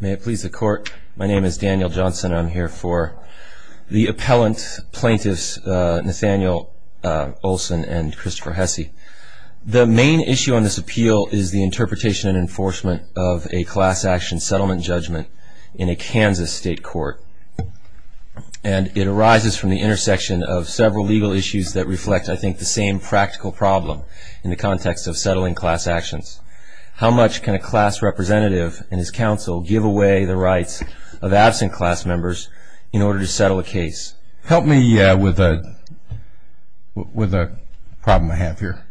May it please the court. My name is Daniel Johnson and I'm here for the appellant plaintiffs Nathaniel Olson and Christopher Hesse. The main issue on this appeal is the interpretation and enforcement of a class action settlement judgment in a Kansas state court. And it arises from the intersection of several legal issues that reflect, I think, the same practical problem in the context of settling class actions. How much can a class representative and his counsel give away the rights of absent class members in order to settle a case? Help me with a problem I have here.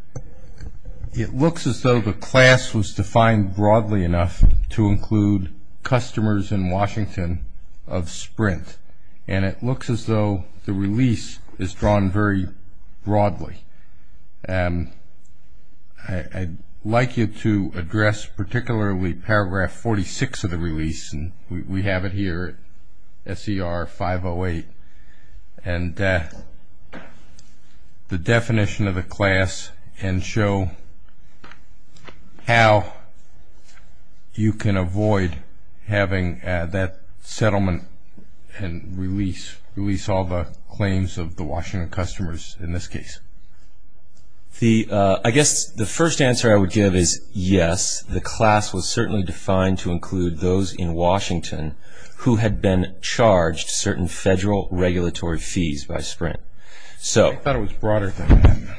It looks as though the class was defined broadly enough to include customers in Washington of Sprint. And it looks as though the release is drawn very broadly. I'd like you to address particularly paragraph 46 of the release. We have it here, S.E.R. 508. And the definition of the class and show how you can avoid having that settlement and release all the claims of the Washington customers in this case. I guess the first answer I would give is yes. The class was certainly defined to include those in Washington who had been charged certain federal regulatory fees by Sprint. I thought it was broader than that.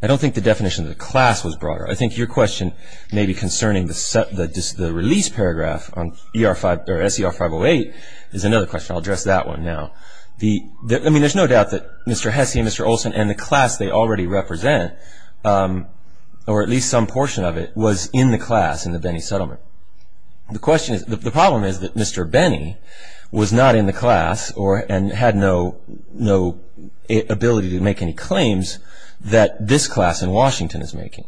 I don't think the definition of the class was broader. I think your question may be concerning the release paragraph on S.E.R. 508 is another question. I'll address that one now. There's no doubt that Mr. Hesse and Mr. Olson and the class they already represent, or at least some portion of it, was in the class in the Benny settlement. The problem is that Mr. Benny was not in the class and had no ability to make any claims that this class in Washington is making.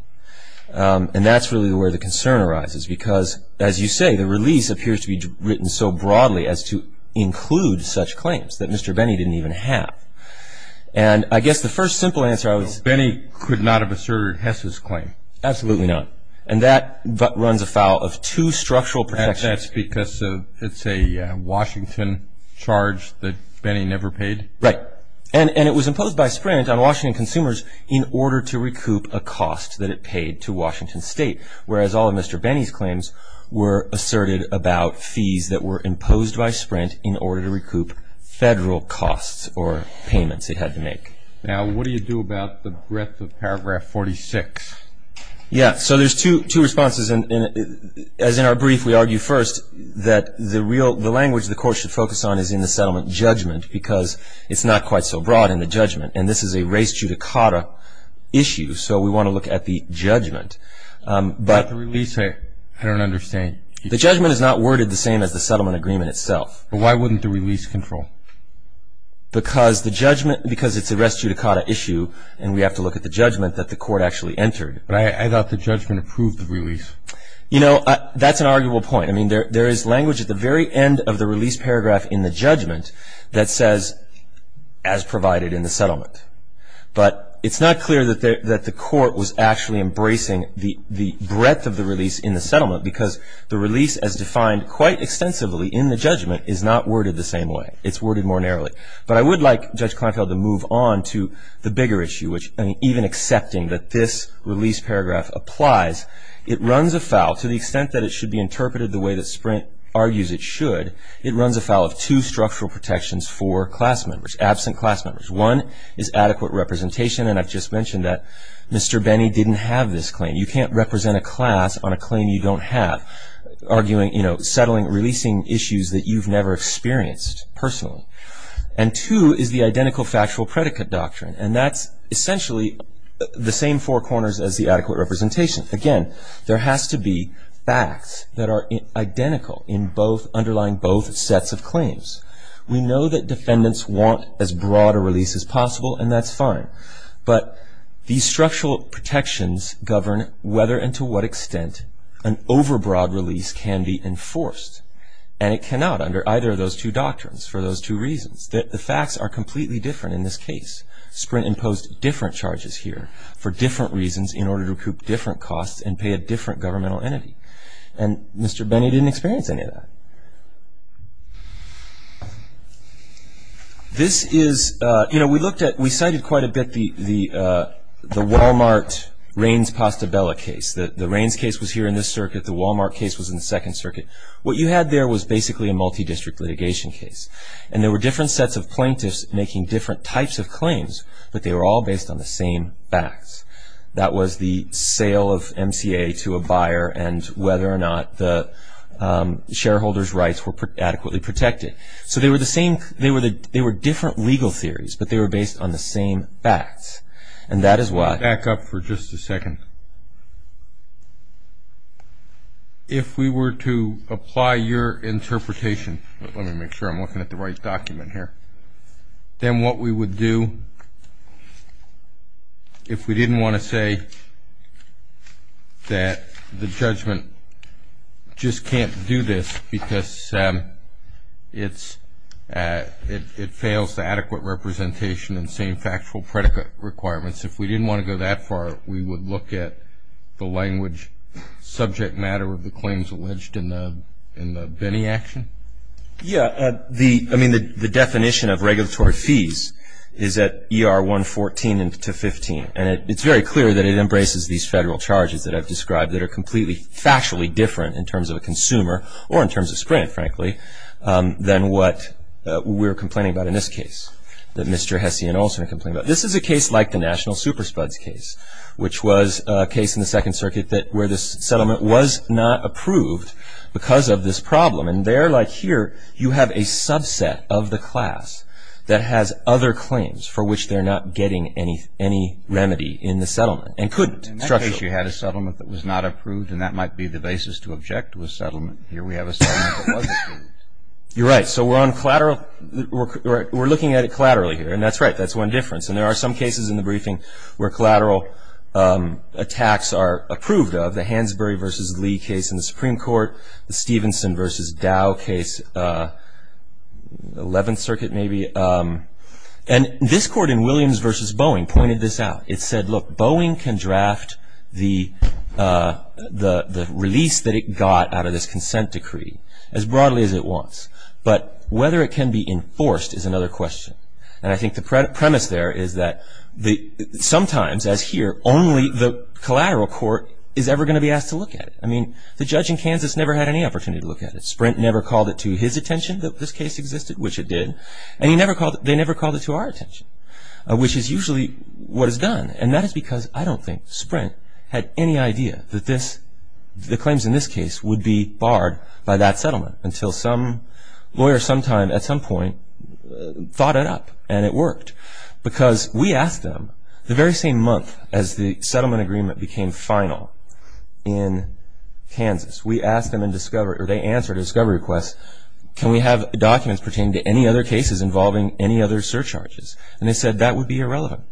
And that's really where the concern arises because, as you say, the release appears to be written so broadly as to include such claims that Mr. Benny didn't even have. And I guess the first simple answer I would say is no. Benny could not have asserted Hesse's claim. Absolutely not. And that runs afoul of two structural protections. That's because it's a Washington charge that Benny never paid. Right. And it was imposed by Sprint on Washington consumers in order to recoup a cost that it paid to Washington State, whereas all of Mr. Benny's claims were asserted about fees that were imposed by Sprint in order to recoup federal costs or payments it had to make. Now, what do you do about the breadth of paragraph 46? Yeah, so there's two responses. As in our brief, we argue first that the language the court should focus on is in the settlement judgment because it's not quite so broad in the judgment, and this is a race judicata issue, so we want to look at the judgment. I don't understand. The judgment is not worded the same as the settlement agreement itself. But why wouldn't the release control? Because it's a race judicata issue, and we have to look at the judgment that the court actually entered. But I thought the judgment approved the release. You know, that's an arguable point. I mean, there is language at the very end of the release paragraph in the judgment that says, as provided in the settlement. But it's not clear that the court was actually embracing the breadth of the release in the settlement because the release as defined quite extensively in the judgment is not worded the same way. It's worded more narrowly. But I would like Judge Kleinfeld to move on to the bigger issue, which, I mean, even accepting that this release paragraph applies, it runs afoul, to the extent that it should be interpreted the way that Sprint argues it should, it runs afoul of two structural protections for class members, absent class members. One is adequate representation, and I've just mentioned that Mr. Benny didn't have this claim. You can't represent a class on a claim you don't have, arguing, you know, settling, releasing issues that you've never experienced personally. And two is the identical factual predicate doctrine, and that's essentially the same four corners as the adequate representation. Again, there has to be facts that are identical in both underlying both sets of claims. We know that defendants want as broad a release as possible, and that's fine. But these structural protections govern whether and to what extent an overbroad release can be enforced. And it cannot under either of those two doctrines for those two reasons. The facts are completely different in this case. Sprint imposed different charges here for different reasons in order to recoup different costs and pay a different governmental entity. And Mr. Benny didn't experience any of that. This is, you know, we looked at, we cited quite a bit the Walmart-Raines-Postabella case. The Raines case was here in this circuit. The Walmart case was in the Second Circuit. What you had there was basically a multi-district litigation case, and there were different sets of plaintiffs making different types of claims, but they were all based on the same facts. That was the sale of MCA to a buyer and whether or not the shareholder's rights were adequately protected. So they were the same, they were different legal theories, but they were based on the same facts. And that is why... Back up for just a second. If we were to apply your interpretation, let me make sure I'm looking at the right document here, then what we would do if we didn't want to say that the judgment just can't do this because it fails the adequate representation and same factual predicate requirements. If we didn't want to go that far, we would look at the language subject matter of the claims alleged in the Benny action? Yeah. I mean, the definition of regulatory fees is at ER 114 to 15, and it's very clear that it embraces these federal charges that I've described that are completely factually different in terms of a consumer or in terms of Sprint, frankly, than what we're complaining about in this case, that Mr. Hesse and Olson are complaining about. This is a case like the National Super Spuds case, which was a case in the Second Circuit where this settlement was not approved because of this problem. And there, like here, you have a subset of the class that has other claims for which they're not getting any remedy in the settlement and couldn't structurally. In that case, you had a settlement that was not approved, and that might be the basis to object to a settlement. Here we have a settlement that was approved. You're right. So we're looking at it collaterally here, and that's right. That's one difference. And there are some cases in the briefing where collateral attacks are approved of, the Hansberry v. Lee case in the Supreme Court, the Stevenson v. Dow case, Eleventh Circuit maybe. And this court in Williams v. Boeing pointed this out. It said, look, Boeing can draft the release that it got out of this consent decree as broadly as it wants, but whether it can be enforced is another question. And I think the premise there is that sometimes, as here, only the collateral court is ever going to be asked to look at it. I mean, the judge in Kansas never had any opportunity to look at it. Sprint never called it to his attention that this case existed, which it did, and they never called it to our attention, which is usually what is done. And that is because I don't think Sprint had any idea that the claims in this case would be barred by that settlement until some lawyer sometime at some point thought it up, and it worked. Because we asked them the very same month as the settlement agreement became final in Kansas, we asked them and they answered a discovery request, can we have documents pertaining to any other cases involving any other surcharges? And they said that would be irrelevant.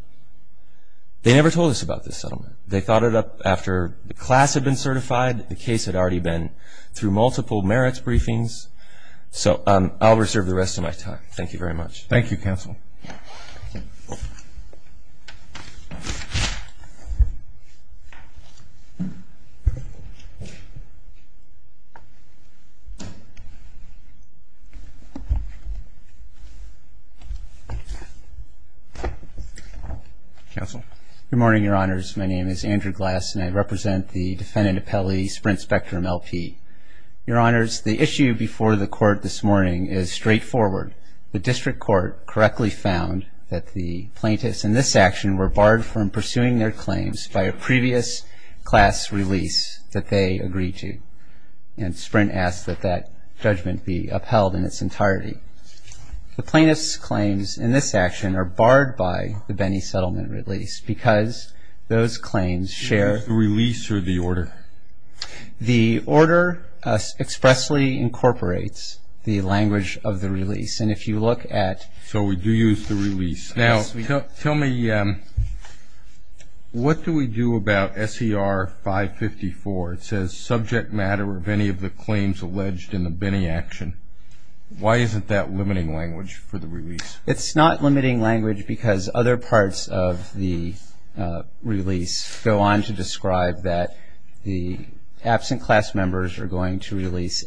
They never told us about this settlement. They thought it up after the class had been certified, the case had already been through multiple merits briefings. So I'll reserve the rest of my time. Thank you very much. Thank you, Counsel. Counsel. Good morning, Your Honors. My name is Andrew Glass and I represent the Defendant Appellee Sprint Spectrum LP. Your Honors, the issue before the Court this morning is straightforward. The District Court correctly found that the plaintiffs in this action were barred from pursuing their claims by a previous class release that they agreed to. And Sprint asked that that judgment be upheld in its entirety. The plaintiffs' claims in this action are barred by the Benny settlement release because those claims share the order expressly incorporates the language of the release. And if you look at... So we do use the release. Now, tell me, what do we do about SER 554? It says subject matter of any of the claims alleged in the Benny action. Why isn't that limiting language for the release? It's not limiting language because other parts of the release go on to describe that the absent class members are going to release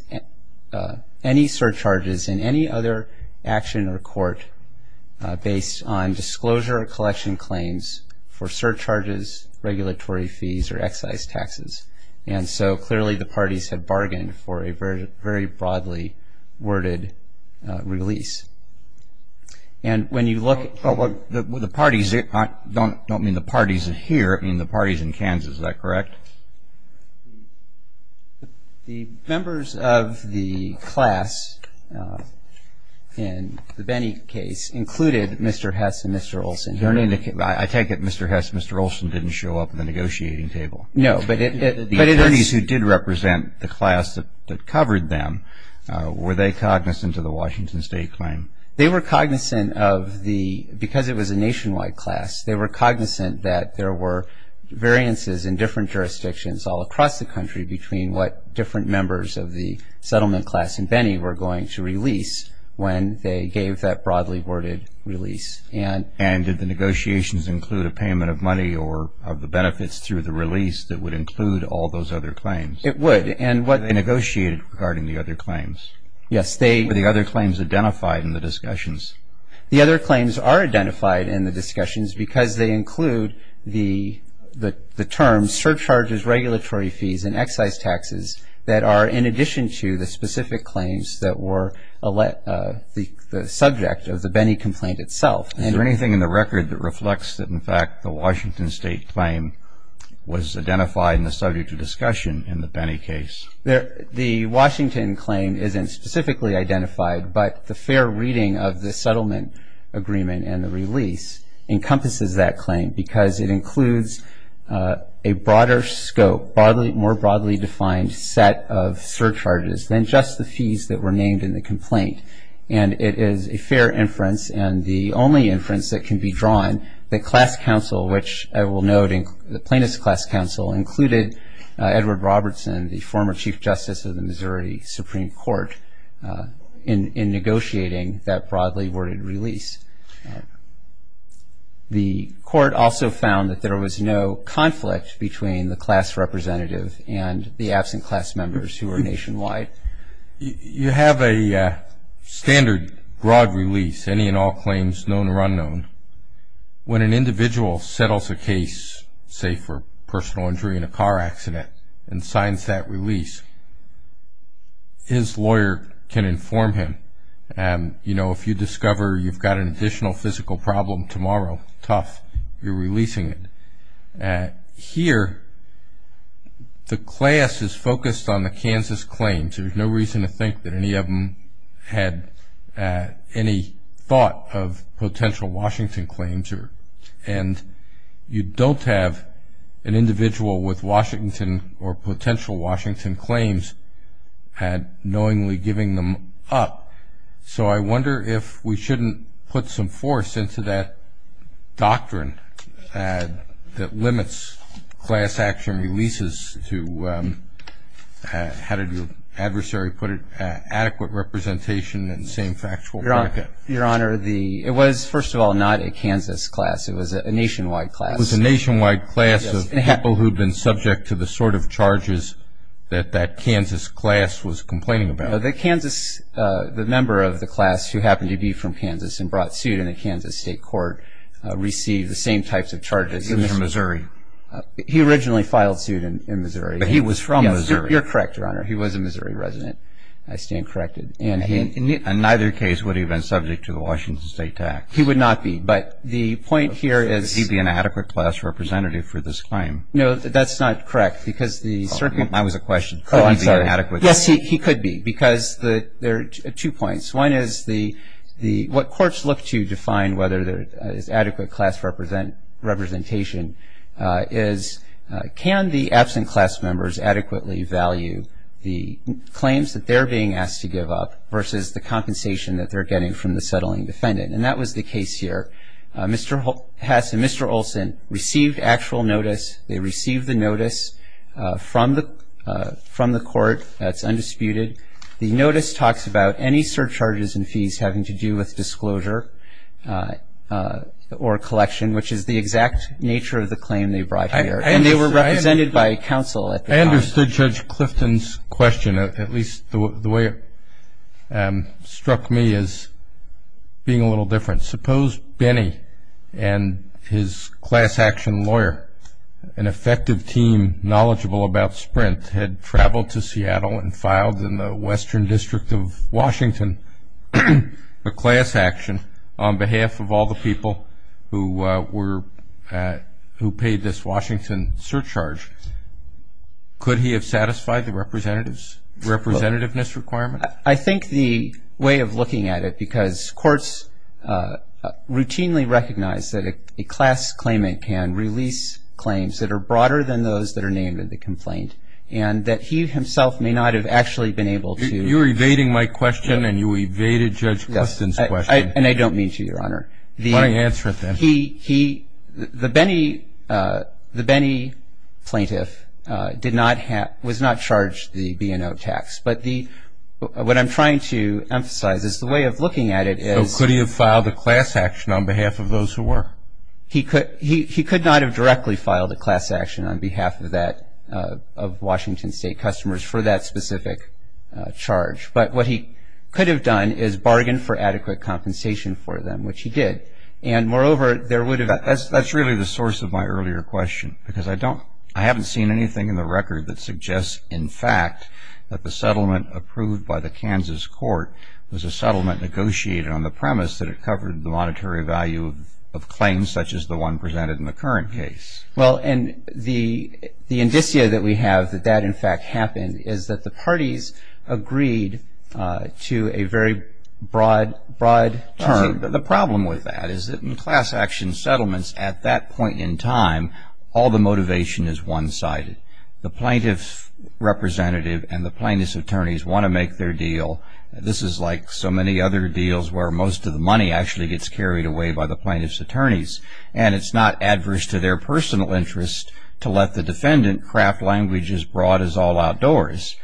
any surcharges in any other action or court based on disclosure or collection claims for surcharges, regulatory fees, or excise taxes. And so clearly the parties have bargained for a very broadly worded release. And when you look... The parties, I don't mean the parties here, I mean the parties in Kansas, is that correct? The members of the class in the Benny case included Mr. Hess and Mr. Olson. I take it Mr. Hess and Mr. Olson didn't show up at the negotiating table. No, but it... The parties who did represent the class that covered them, were they cognizant of the Washington State claim? They were cognizant of the, because it was a nationwide class, they were cognizant that there were variances in different jurisdictions all across the country between what different members of the settlement class in Benny were going to release when they gave that broadly worded release. And did the negotiations include a payment of money or of the benefits through the release that would include all those other claims? It would. And what... They negotiated regarding the other claims? Yes, they... Were the other claims identified in the discussions? The other claims are identified in the discussions because they include the terms surcharges, regulatory fees, and excise taxes that are in addition to the specific claims that were the subject of the Benny complaint itself. Is there anything in the record that reflects that in fact the Washington State claim was identified in the subject of discussion in the Benny case? The Washington claim isn't specifically identified, but the fair reading of the settlement agreement and the release encompasses that claim because it includes a broader scope, more broadly defined set of surcharges than just the fees that were named in the complaint. And it is a fair inference and the only inference that can be drawn that class council, which I will note the plaintiff's class council included Edward Robertson, the former Chief Justice of the Missouri Supreme Court, in negotiating that broadly worded release. The court also found that there was no conflict between the class representative and the absent class members who were nationwide. You have a standard broad release, any and all claims known or unknown. When an individual settles a case, say for personal injury in a car accident, and signs that release, his lawyer can inform him. You know, if you discover you've got an additional physical problem tomorrow, tough, you're releasing it. Here, the class is focused on the Kansas claims. There's no reason to think that any of them had any thought of potential Washington claims. And you don't have an individual with Washington or potential Washington claims knowingly giving them up. So I wonder if we shouldn't put some force into that doctrine that limits class action releases to, how did your adversary put it, adequate representation in the same factual bracket. Your Honor, it was, first of all, not a Kansas class. It was a nationwide class. It was a nationwide class of people who had been subject to the sort of charges that that Kansas class was complaining about. The Kansas, the member of the class who happened to be from Kansas and brought suit in the Kansas state court received the same types of charges. He was from Missouri. He originally filed suit in Missouri. But he was from Missouri. You're correct, Your Honor. He was a Missouri resident. I stand corrected. And neither case would he have been subject to the Washington state tax. He would not be. But the point here is. Would he be an adequate class representative for this claim? No, that's not correct because the. I was a question. Oh, I'm sorry. Yes, he could be because there are two points. One is what courts look to define whether there is adequate class representation is can the absent class members adequately value the claims that they're being asked to give up versus the compensation that they're getting from the settling defendant. And that was the case here. Mr. Hess and Mr. Olson received actual notice. They received the notice from the court. That's undisputed. The notice talks about any surcharges and fees having to do with disclosure or collection, which is the exact nature of the claim they brought here. And they were represented by counsel at the time. I understood Judge Clifton's question. At least the way it struck me as being a little different. Suppose Benny and his class action lawyer, an effective team knowledgeable about Sprint, had traveled to Seattle and filed in the Western District of Washington a class action on behalf of all the people who paid this Washington surcharge. Could he have satisfied the representativeness requirement? I think the way of looking at it, because courts routinely recognize that a class claimant can release claims that are broader than those that are named in the complaint and that he himself may not have actually been able to. You're evading my question and you evaded Judge Clifton's question. And I don't mean to, Your Honor. Why don't you answer it then? The Benny plaintiff was not charged the B&O tax. But what I'm trying to emphasize is the way of looking at it is. So could he have filed a class action on behalf of those who were? He could not have directly filed a class action on behalf of Washington State customers for that specific charge. But what he could have done is bargained for adequate compensation for them, which he did. And moreover, there would have been. That's really the source of my earlier question. Because I haven't seen anything in the record that suggests, in fact, that the settlement approved by the Kansas court was a settlement negotiated on the premise that it covered the monetary value of claims such as the one presented in the current case. Well, and the indicia that we have that that, in fact, happened is that the parties agreed to a very broad term. The problem with that is that in class action settlements at that point in time, all the motivation is one sided. The plaintiff's representative and the plaintiff's attorneys want to make their deal. This is like so many other deals where most of the money actually gets carried away by the plaintiff's attorneys. And it's not adverse to their personal interest to let the defendant craft language as broad as all outdoors.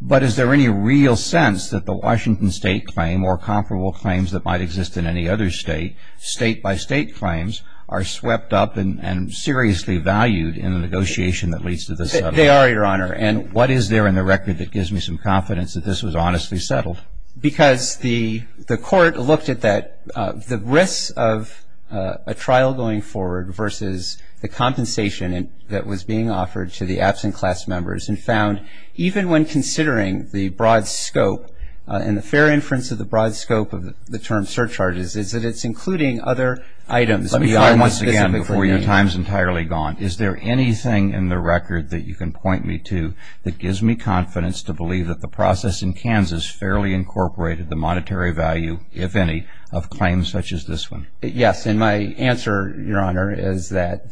But is there any real sense that the Washington state claim or comparable claims that might exist in any other state, state by state claims, are swept up and seriously valued in the negotiation that leads to the settlement? They are, Your Honor. And what is there in the record that gives me some confidence that this was honestly settled? Because the court looked at that, the risks of a trial going forward versus the compensation that was being offered to the absent class members and found, even when considering the broad scope and the fair inference of the broad scope of the term surcharges, is that it's including other items. Let me try once again before your time is entirely gone. Is there anything in the record that you can point me to that gives me confidence to believe that the process in Kansas fairly incorporated the monetary value, if any, of claims such as this one? Yes. And my answer, Your Honor, is that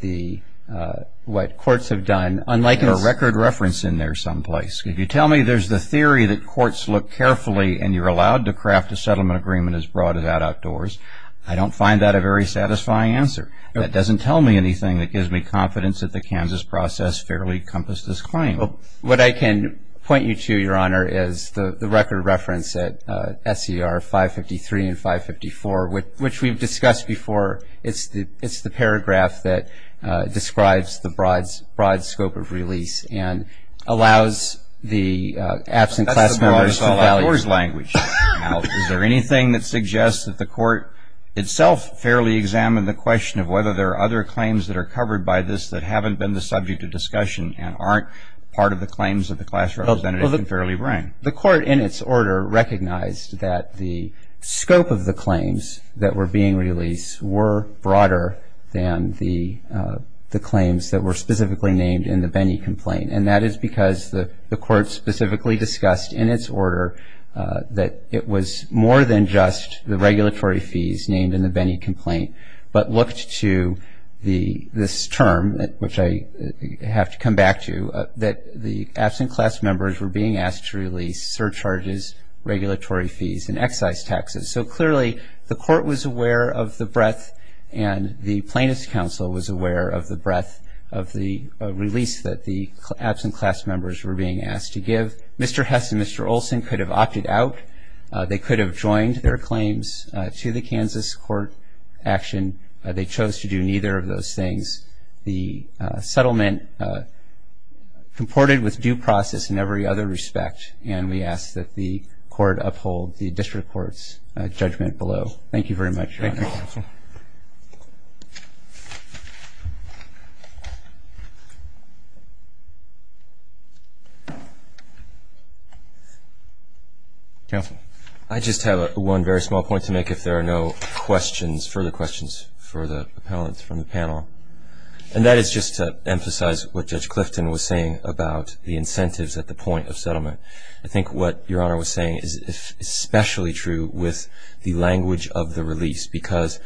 what courts have done, unlike in the- There's a record reference in there someplace. If you tell me there's the theory that courts look carefully and you're allowed to craft a settlement agreement as broad as outdoors, I don't find that a very satisfying answer. That doesn't tell me anything that gives me confidence that the Kansas process fairly encompassed this claim. What I can point you to, Your Honor, is the record reference at SCR 553 and 554, which we've discussed before. It's the paragraph that describes the broad scope of release and allows the absent class members- That's the broadest outdoors language. Now, is there anything that suggests that the court itself fairly examined the question of whether there are other and aren't part of the claims that the class representative can fairly bring? The court in its order recognized that the scope of the claims that were being released were broader than the claims that were specifically named in the Benny complaint. And that is because the court specifically discussed in its order that it was more than just the regulatory fees named in the Benny complaint, but looked to this term, which I have to come back to, that the absent class members were being asked to release surcharges, regulatory fees, and excise taxes. So clearly, the court was aware of the breadth and the plaintiff's counsel was aware of the breadth of the release that the absent class members were being asked to give. Mr. Hess and Mr. Olson could have opted out. They could have joined their claims to the Kansas court action. They chose to do neither of those things. The settlement comported with due process in every other respect, and we ask that the court uphold the district court's judgment below. Thank you very much, Your Honor. Thank you, counsel. Counsel. I just have one very small point to make if there are no questions, further questions for the appellants from the panel. And that is just to emphasize what Judge Clifton was saying about the incentives at the point of settlement. I think what Your Honor was saying is especially true with the language of the release because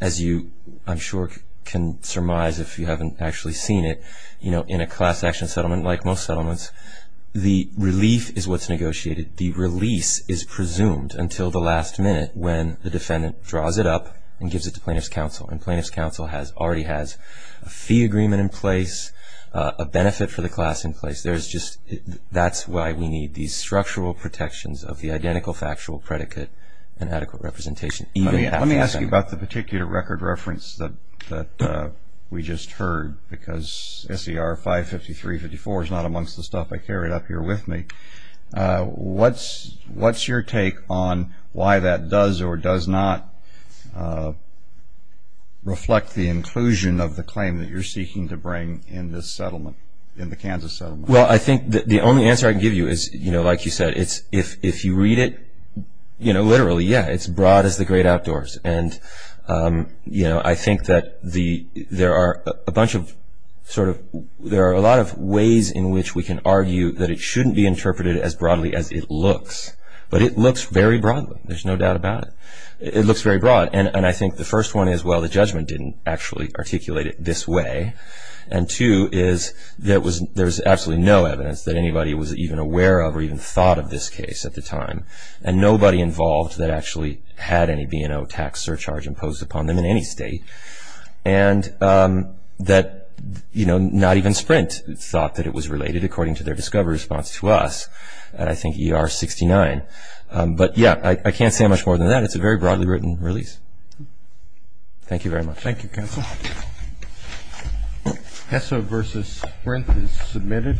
as you, I'm sure, can surmise if you haven't actually seen it, in a class action settlement like most settlements, the relief is what's negotiated. The release is presumed until the last minute when the defendant draws it up and gives it to plaintiff's counsel. And plaintiff's counsel already has a fee agreement in place, a benefit for the class in place. That's why we need these structural protections of the identical factual predicate and adequate representation. Let me ask you about the particular record reference that we just heard because SER 553-54 is not amongst the stuff I carried up here with me. What's your take on why that does or does not reflect the inclusion of the claim that you're seeking to bring in this settlement, in the Kansas settlement? Well, I think the only answer I can give you is, you know, like you said, if you read it, you know, literally, yeah, it's broad as the great outdoors and, you know, I think that there are a bunch of sort of, there are a lot of ways in which we can argue that it shouldn't be interpreted as broadly as it looks. But it looks very broad. There's no doubt about it. It looks very broad and I think the first one is, well, the judgment didn't actually articulate it this way. And two is, there was absolutely no evidence that anybody was even aware of or even thought of this case at the time. And nobody involved that actually had any B&O tax surcharge imposed upon them in any state. And that, you know, not even Sprint thought that it was related according to their discovery response to us, I think ER 69. But, yeah, I can't say much more than that. It's a very broadly written release. Thank you very much. Thank you, counsel. HESO versus Sprint is submitted.